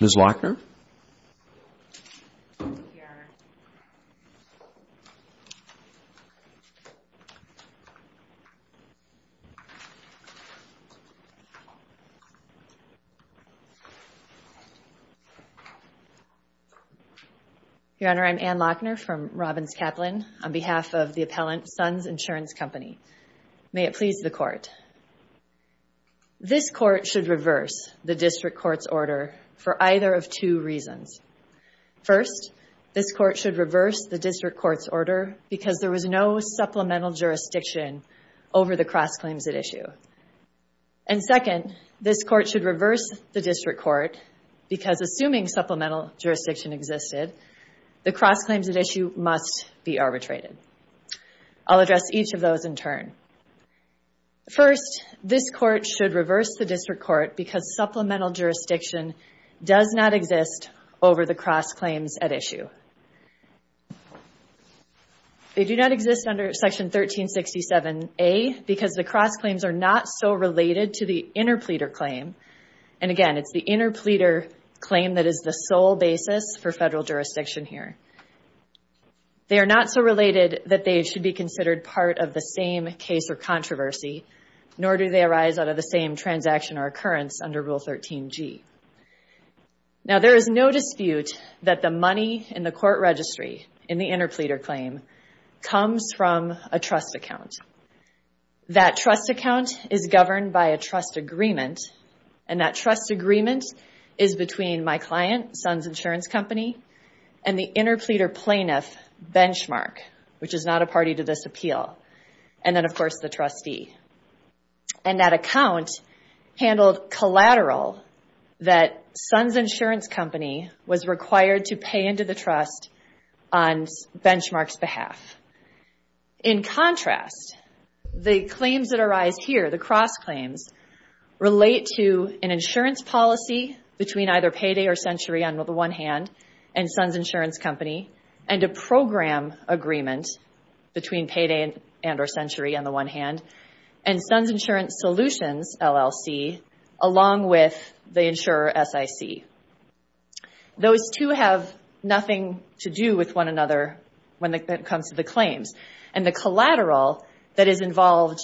Ms. Lochner. Your Honor, I'm Ann Lochner from Robbins Kaplan on behalf of the appellant SUNZ Insurance Company. May it please the Court. This Court should reverse the District Court's order for either of two reasons. First, this Court should reverse the District Court's order because there was no supplemental jurisdiction over the cross claims at issue. And second, this Court should reverse the District Court because assuming supplemental jurisdiction existed, the cross claims at issue must be arbitrated. I'll address each of those in turn. First, this Court should reverse the District Court because supplemental jurisdiction does not exist over the cross claims at issue. They do not exist under Section 1367A because the cross claims are not so related to the interpleader claim. And again, it's the interpleader claim that is the sole basis for federal jurisdiction here. They are not so related that they should be considered part of the same case or controversy, nor do they arise out of the same transaction or occurrence under Rule 13g. Now, there is no dispute that the money in the court registry in the interpleader claim comes from a trust account. That trust account is governed by a trust agreement, and that trust agreement is between my client, Sons Insurance Company, and the interpleader plaintiff, Benchmark, which is not a party to this appeal, and then, of course, the trustee. And that account handled collateral that Sons Insurance Company was required to pay into the trust on Benchmark's behalf. In contrast, the claims that arise here, the cross claims, relate to an insurance policy between either Payday or Century, on the one hand, and Sons Insurance Company, and a program agreement between Payday and or Century, on the one hand, and Sons Insurance Solutions, LLC, along with the insurer, SIC. Those two have nothing to do with one another when it comes to the claims, and the collateral that is involved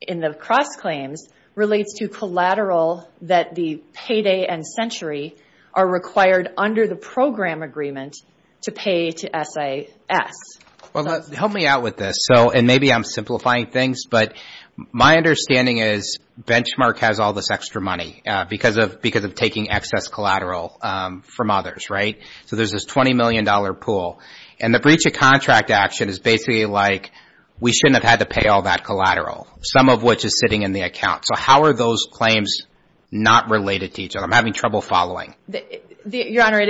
in the cross claims relates to collateral that the Payday and Century are required, under the program agreement, to pay to SAS. Well, help me out with this, and maybe I'm simplifying things, but my understanding is Benchmark has all this extra money because of taking excess collateral from others, right? So there's this $20 million pool, and the breach of contract action is basically like, we shouldn't have had to pay all that collateral, some of which is sitting in the account. So how are those claims not related to each other? I'm having trouble following. Your Honor,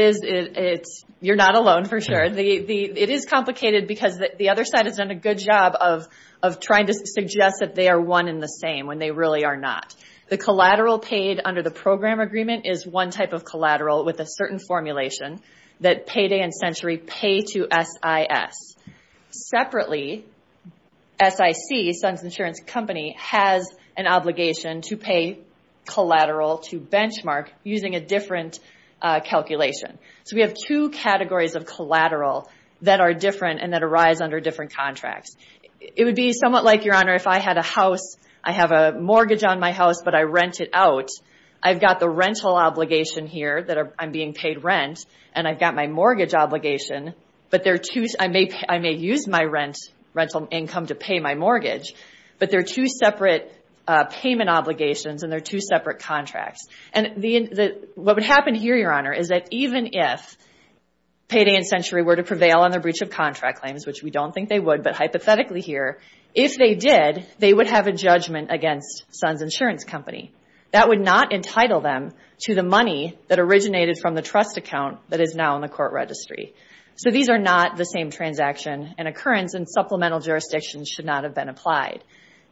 you're not alone, for sure. It is complicated because the other side has done a good job of trying to suggest that they are one and the same, when they really are not. The collateral paid under the program agreement is one type of collateral with a certain formulation that Payday and Century pay to SIS. Separately, SIC, Sons Insurance Company, has an obligation to pay collateral to Benchmark using a different calculation. So we have two categories of collateral that are different and that arise under different contracts. It would be somewhat like, Your Honor, if I had a house, I have a mortgage on my house, but I rent it out, I've got the rental obligation here that I'm being paid rent, and I've got my mortgage obligation, but I may use my rental income to pay my mortgage, but they're two separate payment obligations, and they're two separate contracts. What would happen here, Your Honor, is that even if Payday and Century were to prevail on their breach of contract claims, which we don't think they would, but hypothetically here, if they did, they would have a judgment against Sons Insurance Company. That would not entitle them to the money that originated from the trust account that is now in the court registry. So these are not the same transaction and occurrence, and supplemental jurisdictions should not have been applied.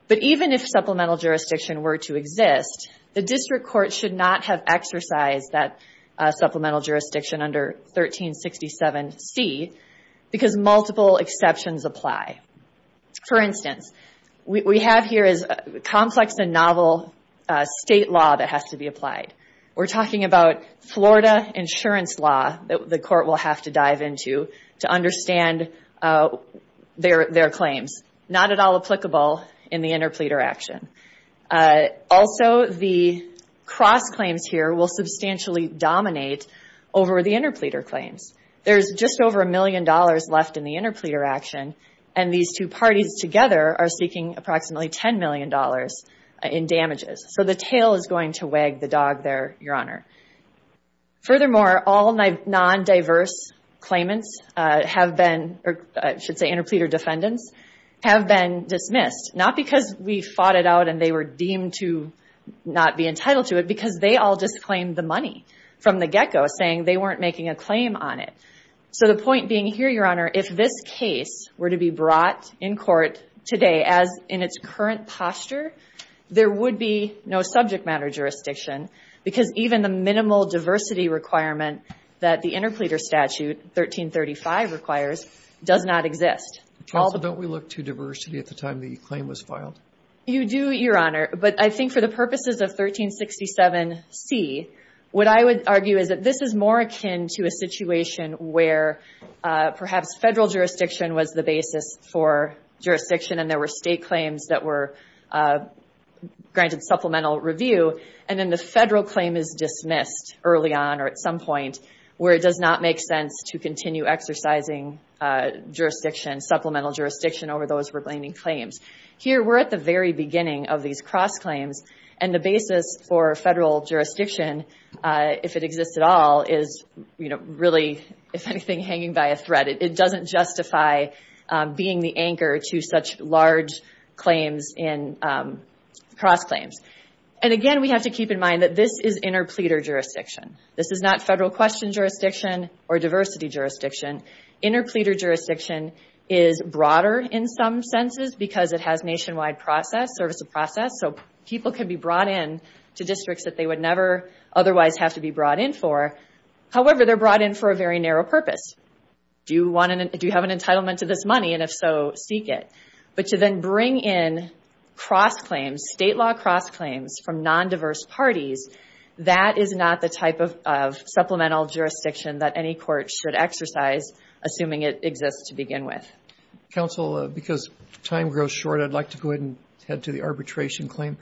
But even if supplemental jurisdiction were to exist, the district court should not have exercised that supplemental jurisdiction under 1367C because multiple exceptions apply. For instance, what we have here is complex and novel state law that has to be applied. We're talking about Florida insurance law that the court will have to dive into to understand their claims. Not at all applicable in the interpleader action. Also, the cross claims here will substantially dominate over the interpleader claims. There's just over a million dollars left in the interpleader action, and these two parties together are seeking approximately $10 million in damages. So the tail is going to wag the dog there, Your Honor. Furthermore, all non-diverse claimants have been, or I should say interpleader defendants, have been dismissed. Not because we fought it out and they were deemed to not be entitled to it, because they all just claimed the money from the get-go, saying they weren't making a claim on it. So the point being here, Your Honor, if this case were to be brought in court today as in its current posture, there would be no subject matter jurisdiction, because even the minimal diversity requirement that the interpleader statute 1335 requires does not exist. Also, don't we look to diversity at the time the claim was filed? You do, Your Honor, but I think for the purposes of 1367C, what I would argue is that this is more akin to a situation where perhaps federal jurisdiction was the basis for jurisdiction and there were state claims that were granted supplemental review, and then the federal claim is dismissed early on or at some point, where it does not make sense to continue exercising jurisdiction, supplemental jurisdiction, over those remaining claims. Here we're at the very beginning of these cross-claims, and the basis for federal jurisdiction, if it exists at all, is really, if anything, hanging by a thread. It doesn't justify being the anchor to such large claims in cross-claims. Again, we have to keep in mind that this is interpleader jurisdiction. This is not federal question jurisdiction or diversity jurisdiction. Interpleader jurisdiction is broader in some senses because it has nationwide process, service of process, so people can be brought in to districts that they would never otherwise have to be brought in for. However, they're brought in for a very narrow purpose. Do you have an entitlement to this money, and if so, seek it. But to then bring in cross-claims, state law cross-claims from non-diverse parties, that is not the type of supplemental jurisdiction that any court should exercise, assuming it exists to begin with. Counsel, because time grows short, I'd like to go ahead and head to the arbitration claim.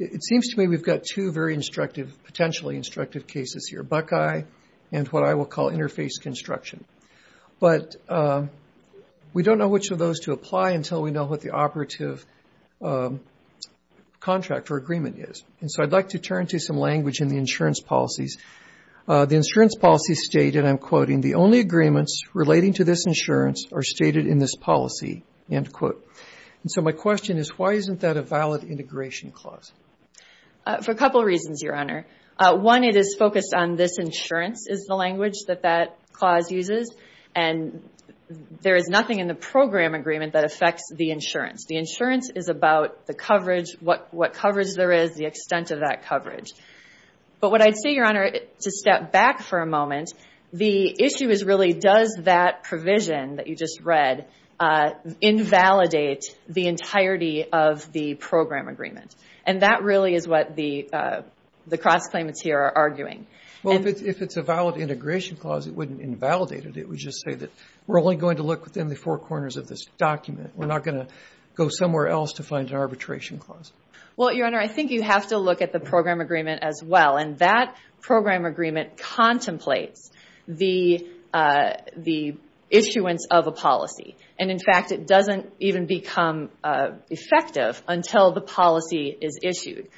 It seems to me we've got two very instructive, potentially instructive cases here, Buckeye and what I will call interface construction. But we don't know which of those to apply until we know what the operative contract or agreement is. And so I'd like to turn to some language in the insurance policies. The insurance policies state, and I'm quoting, the only agreements relating to this insurance are stated in this policy, end quote. And so my question is, why isn't that a valid integration clause? For a couple reasons, Your Honor. One, it is focused on this insurance is the language that that clause uses, and there is nothing in the program agreement that affects the insurance. The insurance is about the coverage, what coverage there is, the extent of that coverage. But what I'd say, Your Honor, to step back for a moment, the issue is really does that provision that you just read invalidate the entirety of the program agreement? And that really is what the cross-claimants here are arguing. Well, if it's a valid integration clause, it wouldn't invalidate it. It would just say that we're only going to look within the four corners of this document. We're not going to go somewhere else to find an arbitration clause. Well, Your Honor, I think you have to look at the program agreement as well, and that program agreement contemplates the issuance of a policy. And, in fact, it doesn't even become effective until the policy is issued.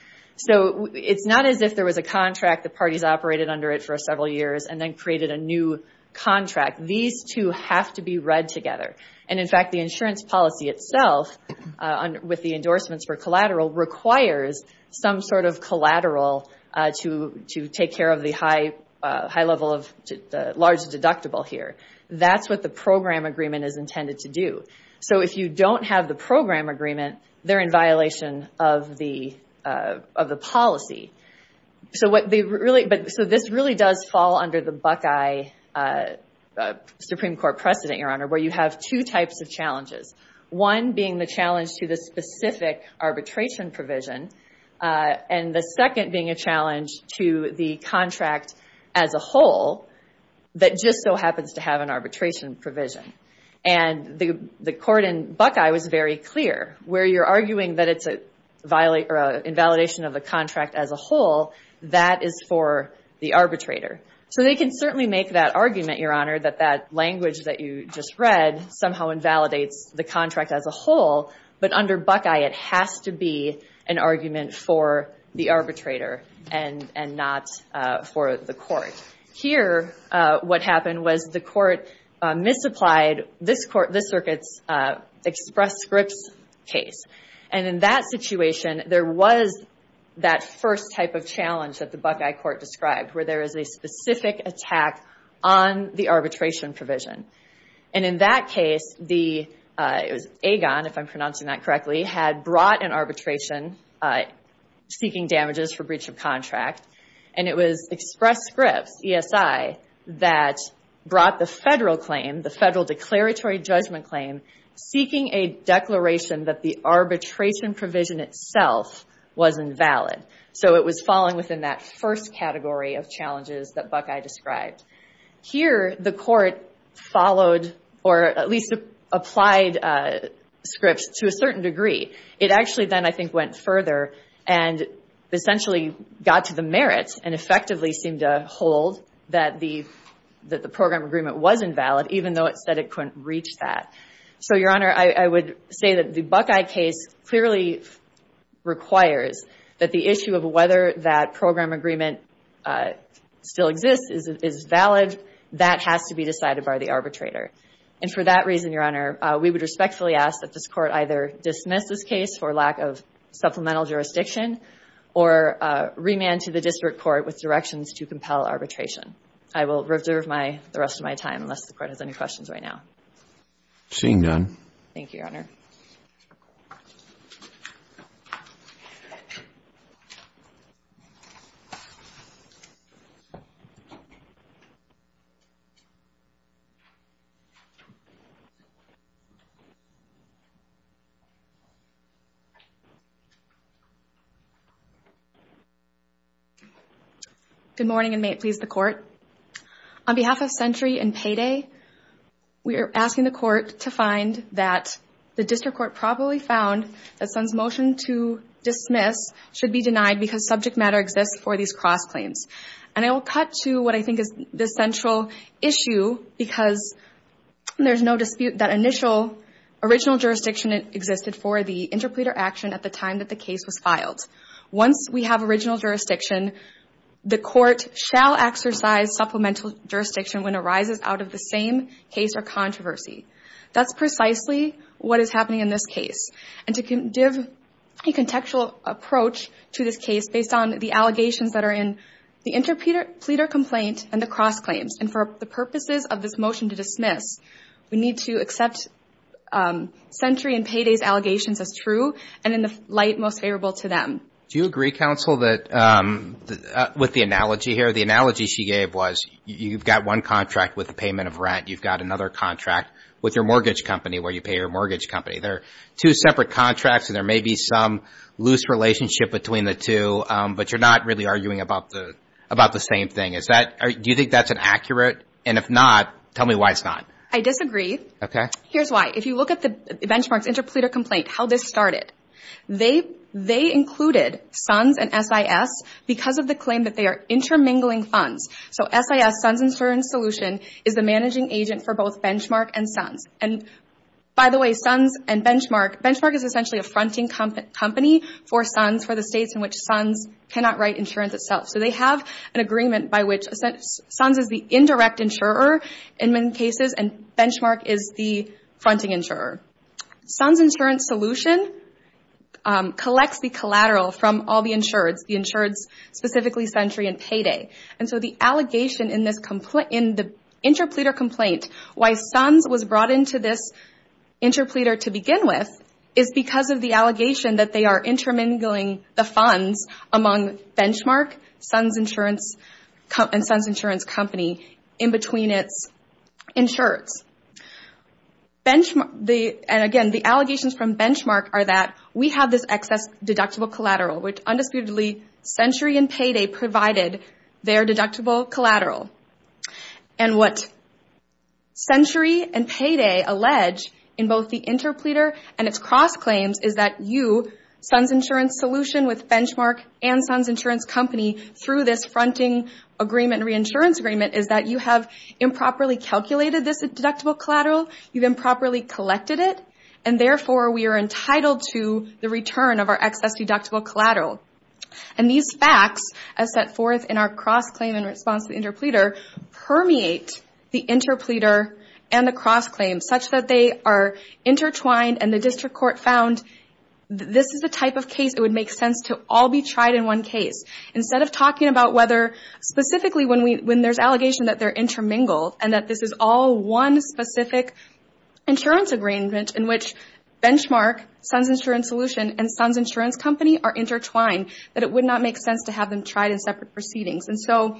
So it's not as if there was a contract, the parties operated under it for several years, and then created a new contract. These two have to be read together. And, in fact, the insurance policy itself, with the endorsements for collateral, requires some sort of collateral to take care of the high level of the large deductible here. That's what the program agreement is intended to do. So if you don't have the program agreement, they're in violation of the policy. So this really does fall under the Buckeye Supreme Court precedent, Your Honor, where you have two types of challenges, one being the challenge to the specific arbitration provision, and the second being a challenge to the contract as a whole that just so happens to have an arbitration provision. And the court in Buckeye was very clear. Where you're arguing that it's an invalidation of the contract as a whole, that is for the arbitrator. So they can certainly make that argument, Your Honor, that that language that you just read somehow invalidates the contract as a whole. But under Buckeye, it has to be an argument for the arbitrator and not for the court. Here, what happened was the court misapplied this circuit's express scripts case. And in that situation, there was that first type of challenge that the Buckeye court described, where there is a specific attack on the arbitration provision. And in that case, it was Agon, if I'm pronouncing that correctly, had brought an arbitration seeking damages for breach of contract. And it was express scripts, ESI, that brought the federal claim, the federal declaratory judgment claim, seeking a declaration that the arbitration provision itself was invalid. So it was falling within that first category of challenges that Buckeye described. Here, the court followed or at least applied scripts to a certain degree. It actually then, I think, went further and essentially got to the merits and effectively seemed to hold that the program agreement was invalid, even though it said it couldn't reach that. So, Your Honor, I would say that the Buckeye case clearly requires that the issue of whether that program agreement still exists is valid. That has to be decided by the arbitrator. And for that reason, Your Honor, we would respectfully ask that this court either dismiss this case for lack of supplemental jurisdiction or remand to the district court with directions to compel arbitration. I will reserve the rest of my time unless the court has any questions right now. Seeing none. Good morning, and may it please the Court. On behalf of Century and Payday, we are asking the court to find that the district court probably found that Sun's motion to dismiss should be denied because subject matter exists for these cross-claims. And I will cut to what I think is the central issue because there's no dispute that initial original jurisdiction existed for the interpreter action at the time that the case was filed. Once we have original jurisdiction, the court shall exercise supplemental jurisdiction when it arises out of the same case or controversy. That's precisely what is happening in this case. And to give a contextual approach to this case based on the allegations that are in the interpreter complaint and the cross-claims and for the purposes of this motion to dismiss, we need to accept Century and Payday's allegations as true and in the light most favorable to them. Do you agree, Counsel, with the analogy here? The analogy she gave was you've got one contract with the payment of rent. You've got another contract with your mortgage company where you pay your mortgage company. They're two separate contracts, and there may be some loose relationship between the two, but you're not really arguing about the same thing. Do you think that's accurate? And if not, tell me why it's not. I disagree. Okay. Here's why. If you look at the benchmarks interpreter complaint, how this started, they included SUNS and SIS because of the claim that they are intermingling funds. So SIS, SUNS Insurance Solution, is the managing agent for both Benchmark and SUNS. And by the way, SUNS and Benchmark, Benchmark is essentially a fronting company for SUNS, for the states in which SUNS cannot write insurance itself. So they have an agreement by which SUNS is the indirect insurer in many cases, and Benchmark is the fronting insurer. SUNS Insurance Solution collects the collateral from all the insureds, the insureds specifically Sentry and Payday. And so the allegation in the interpreter complaint, why SUNS was brought into this interpreter to begin with, is because of the allegation that they are intermingling the funds among Benchmark, and SUNS Insurance Company, in between its insureds. And again, the allegations from Benchmark are that we have this excess deductible collateral, which undisputedly, Sentry and Payday provided their deductible collateral. And what Sentry and Payday allege in both the interpreter and its cross claims, is that you, SUNS Insurance Solution, with Benchmark and SUNS Insurance Company, through this fronting agreement, reinsurance agreement, is that you have improperly calculated this deductible collateral, you've improperly collected it, and therefore we are entitled to the return of our excess deductible collateral. And these facts, as set forth in our cross claim in response to the interpreter, permeate the interpreter and the cross claim, such that they are intertwined, and the district court found, this is the type of case it would make sense to all be tried in one case. Instead of talking about whether, specifically when there's allegation that they're intermingled, and that this is all one specific insurance agreement, in which Benchmark, SUNS Insurance Solution, and SUNS Insurance Company are intertwined, that it would not make sense to have them tried in separate proceedings. And so,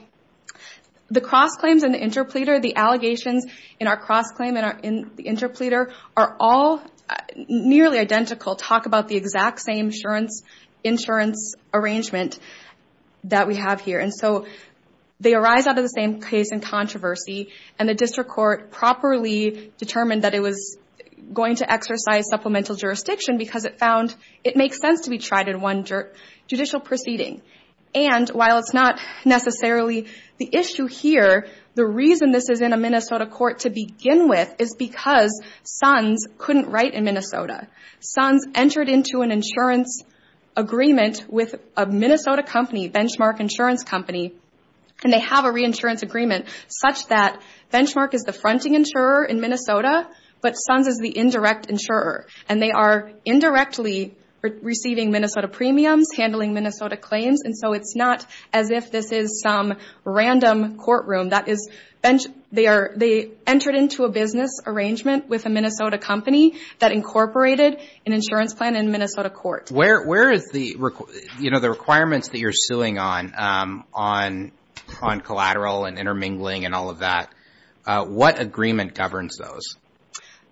the cross claims in the interpreter, the allegations in our cross claim in the interpreter, are all nearly identical, talk about the exact same insurance arrangement that we have here. And so, they arise out of the same case in controversy, and the district court properly determined that it was going to exercise supplemental jurisdiction, because it found it makes sense to be tried in one judicial proceeding. And, while it's not necessarily the issue here, the reason this is in a Minnesota court to begin with, is because SUNS couldn't write in Minnesota. SUNS entered into an insurance agreement with a Minnesota company, Benchmark Insurance Company, and they have a reinsurance agreement, such that Benchmark is the fronting insurer in Minnesota, but SUNS is the indirect insurer. And they are indirectly receiving Minnesota premiums, handling Minnesota claims, and so it's not as if this is some random courtroom. That is, they entered into a business arrangement with a Minnesota company that incorporated an insurance plan in Minnesota court. Where is the, you know, the requirements that you're suing on, on collateral and intermingling and all of that, what agreement governs those?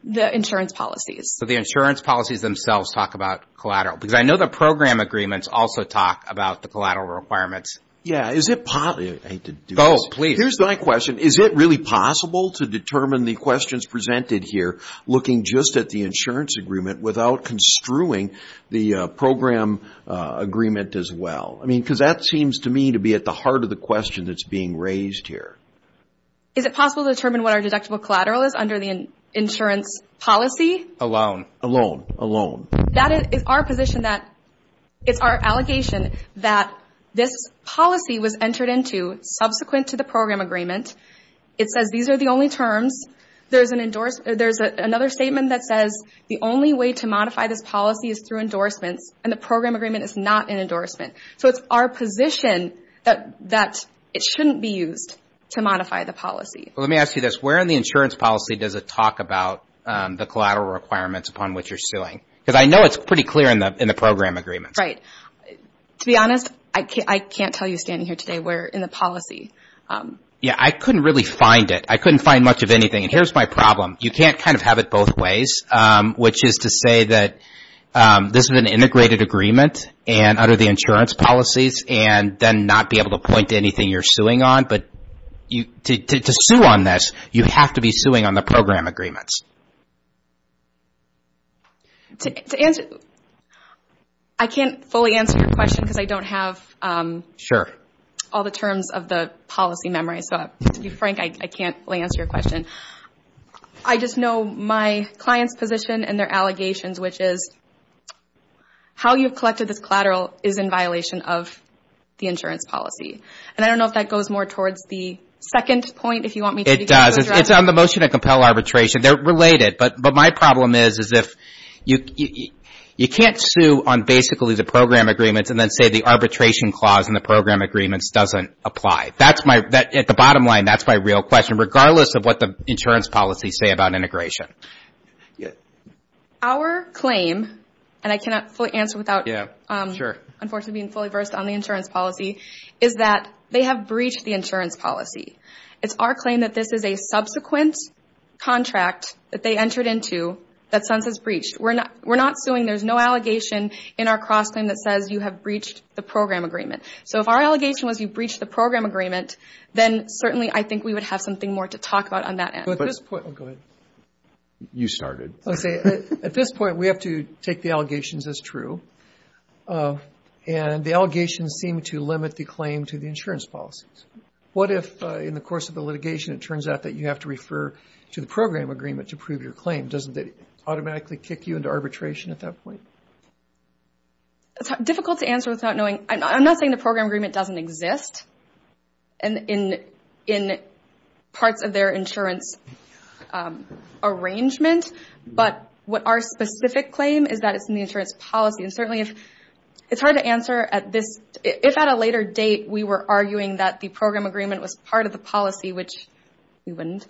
The insurance policies. So, the insurance policies themselves talk about collateral, because I know the program agreements also talk about the collateral requirements. Yeah, is it possible, I hate to do this. Oh, please. Here's my question. Is it really possible to determine the questions presented here, looking just at the insurance agreement, without construing the program agreement as well? I mean, because that seems to me to be at the heart of the question that's being raised here. Is it possible to determine what our deductible collateral is under the insurance policy? Alone. Alone, alone. That is our position that it's our allegation that this policy was entered into subsequent to the program agreement. It says these are the only terms. There's another statement that says the only way to modify this policy is through endorsements, and the program agreement is not an endorsement. So it's our position that it shouldn't be used to modify the policy. Well, let me ask you this. Where in the insurance policy does it talk about the collateral requirements upon which you're suing? Because I know it's pretty clear in the program agreements. Right. To be honest, I can't tell you standing here today where in the policy. Yeah, I couldn't really find it. I couldn't find much of anything, and here's my problem. You can't kind of have it both ways, which is to say that this is an integrated agreement under the insurance policies and then not be able to point to anything you're suing on. But to sue on this, you have to be suing on the program agreements. I can't fully answer your question because I don't have all the terms of the policy memorized. So to be frank, I can't fully answer your question. I just know my client's position and their allegations, which is how you've collected this collateral is in violation of the insurance policy. I don't know if that goes more towards the second point. It does. It's on the motion to compel arbitration. They're related, but my problem is you can't sue on basically the program agreements and then say the arbitration clause in the program agreements doesn't apply. At the bottom line, that's my real question, regardless of what the insurance policies say about integration. Our claim, and I cannot fully answer without unfortunately being fully versed on the insurance policy, is that they have breached the insurance policy. It's our claim that this is a subsequent contract that they entered into that SUNS has breached. We're not suing. There's no allegation in our cross-claim that says you have breached the program agreement. So if our allegation was you breached the program agreement, then certainly I think we would have something more to talk about on that end. At this point, we have to take the allegations as true. And the allegations seem to limit the claim to the insurance policies. What if in the course of the litigation it turns out that you have to refer to the program agreement to prove your claim? Doesn't it automatically kick you into arbitration at that point? It's difficult to answer without knowing. I'm not saying the program agreement doesn't exist in parts of their insurance arrangement, but what our specific claim is that it's in the insurance policy. And certainly it's hard to answer if at a later date we were arguing that the program agreement was part of the policy, which we wouldn't.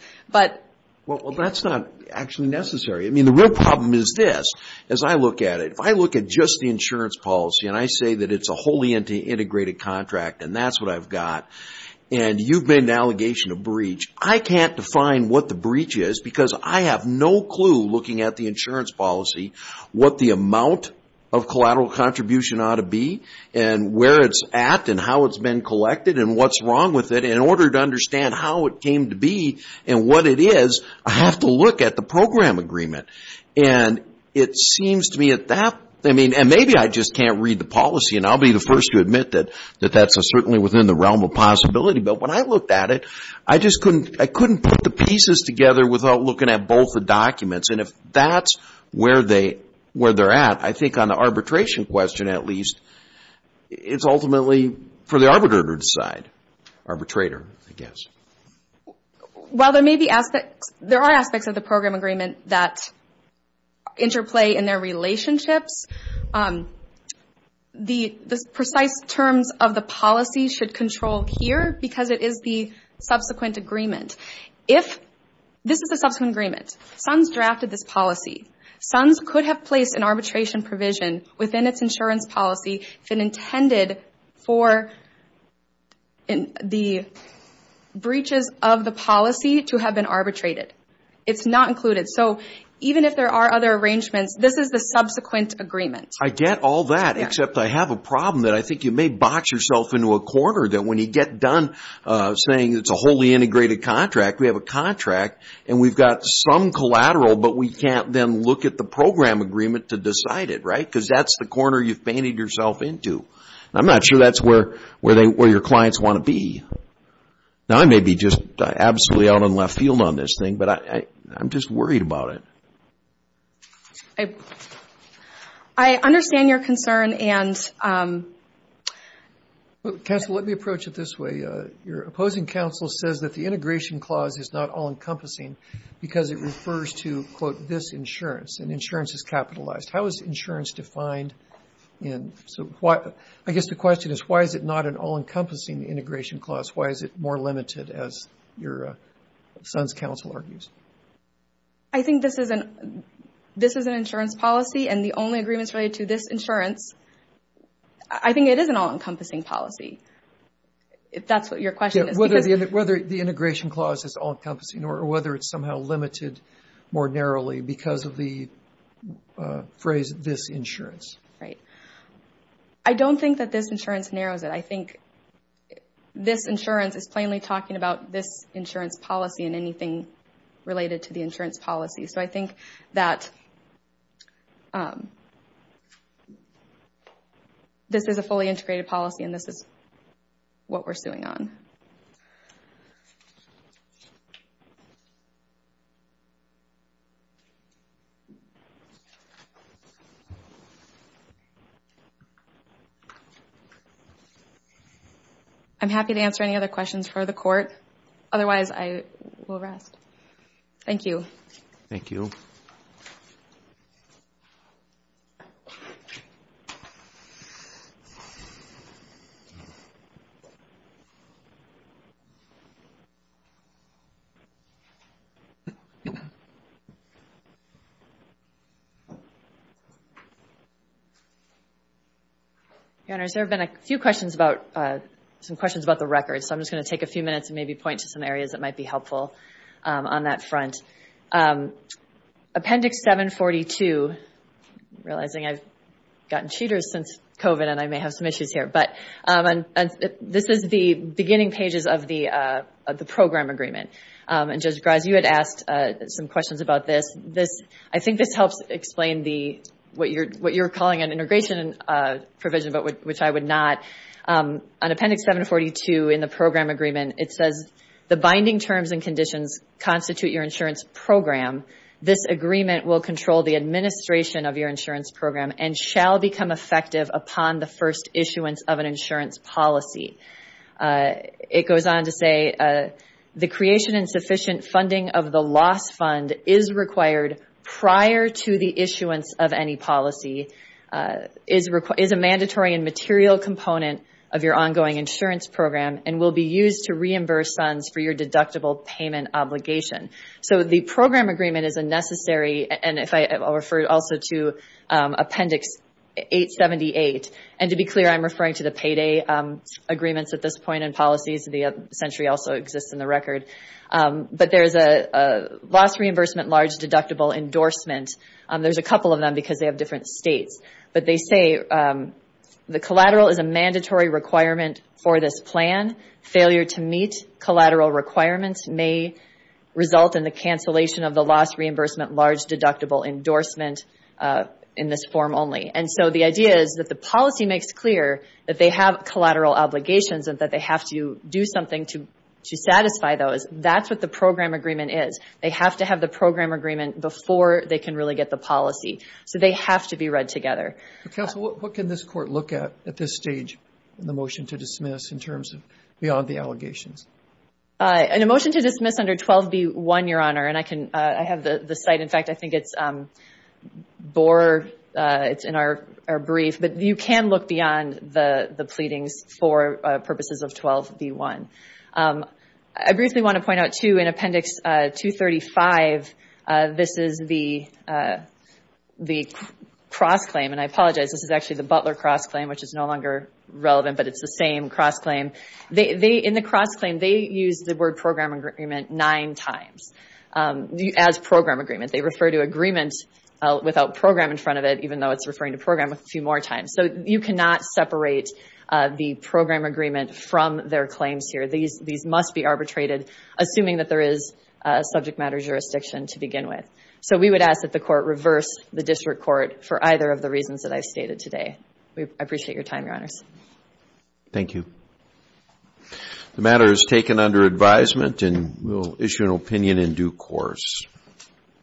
Well, that's not actually necessary. I mean, the real problem is this. As I look at it, if I look at just the insurance policy and I say that it's a wholly integrated contract and that's what I've got, and you've made an allegation of breach, I can't define what the breach is because I have no clue looking at the insurance policy what the amount of collateral contribution ought to be and where it's at and how it's been collected and what's wrong with it. In order to understand how it came to be and what it is, I have to look at the program agreement. And it seems to me that that, I mean, and maybe I just can't read the policy, and I'll be the first to admit that that's certainly within the realm of possibility. But when I looked at it, I just couldn't put the pieces together without looking at both the documents. And if that's where they're at, I think on the arbitration question at least, it's ultimately for the arbitrator to decide. Arbitrator, I guess. While there are aspects of the program agreement that interplay in their relationships, the precise terms of the policy should control here because it is the subsequent agreement. This is the subsequent agreement. SUNS drafted this policy. SUNS could have placed an arbitration provision within its insurance policy if it intended for the breaches of the policy to have been arbitrated. It's not included. So even if there are other arrangements, this is the subsequent agreement. I get all that, except I have a problem that I think you may box yourself into a corner that when you get done saying it's a wholly integrated contract, we have a contract and we've got some collateral, but we can't then look at the program agreement to decide it, right? Because that's the corner you've painted yourself into. I'm not sure that's where your clients want to be. Now, I may be just absolutely out on left field on this thing, but I'm just worried about it. I understand your concern. Counsel, let me approach it this way. Your opposing counsel says that the integration clause is not all-encompassing because it refers to, quote, this insurance, and insurance is capitalized. How is insurance defined? I guess the question is, why is it not an all-encompassing integration clause? Why is it more limited, as your son's counsel argues? I think this is an insurance policy, and the only agreements related to this insurance, I think it is an all-encompassing policy, if that's what your question is. Whether the integration clause is all-encompassing or whether it's somehow limited more narrowly because of the phrase, this insurance. Right. I don't think that this insurance narrows it. I think this insurance is plainly talking about this insurance policy and anything related to the insurance policy. I think that this is a fully integrated policy, and this is what we're suing on. I'm happy to answer any other questions for the court. Otherwise, I will rest. Thank you. Thank you. Your Honors, there have been a few questions about the records, so I'm just going to take a few minutes and maybe point to some areas that might be helpful on that front. Appendix 742, realizing I've gotten cheaters since COVID and I may have some issues here, but this is the beginning pages of the program agreement. Judge Graz, you had asked some questions about this. I think this helps explain what you're calling an integration provision, but which I would not. On Appendix 742 in the program agreement, it says, the binding terms and conditions constitute your insurance program. This agreement will control the administration of your insurance program and shall become effective upon the first issuance of an insurance policy. It goes on to say, the creation and sufficient funding of the loss fund is required prior to the issuance of any policy, is a mandatory and material component of your ongoing insurance program, and will be used to reimburse funds for your deductible payment obligation. So the program agreement is a necessary, and I'll refer also to Appendix 878, and to be clear, I'm referring to the payday agreements at this point in policies. The century also exists in the record. But there's a loss reimbursement large deductible endorsement. There's a couple of them because they have different states. But they say, the collateral is a mandatory requirement for this plan. Failure to meet collateral requirements may result in the cancellation of the loss reimbursement large deductible endorsement in this form only. And so the idea is that the policy makes clear that they have collateral obligations and that they have to do something to satisfy those. That's what the program agreement is. They have to have the program agreement before they can really get the policy. So they have to be read together. Counsel, what can this court look at at this stage in the motion to dismiss in terms of beyond the allegations? In a motion to dismiss under 12b1, Your Honor, and I have the site. In fact, I think it's in our brief. But you can look beyond the pleadings for purposes of 12b1. I briefly want to point out, too, in Appendix 235, this is the cross-claim. And I apologize, this is actually the Butler cross-claim, which is no longer relevant, but it's the same cross-claim. In the cross-claim, they use the word program agreement nine times. As program agreement, they refer to agreement without program in front of it, even though it's referring to program a few more times. So you cannot separate the program agreement from their claims here. These must be arbitrated, assuming that there is a subject matter jurisdiction to begin with. So we would ask that the court reverse the district court for either of the reasons that I stated today. I appreciate your time, Your Honors. Thank you. The matter is taken under advisement, and we will issue an opinion in due course.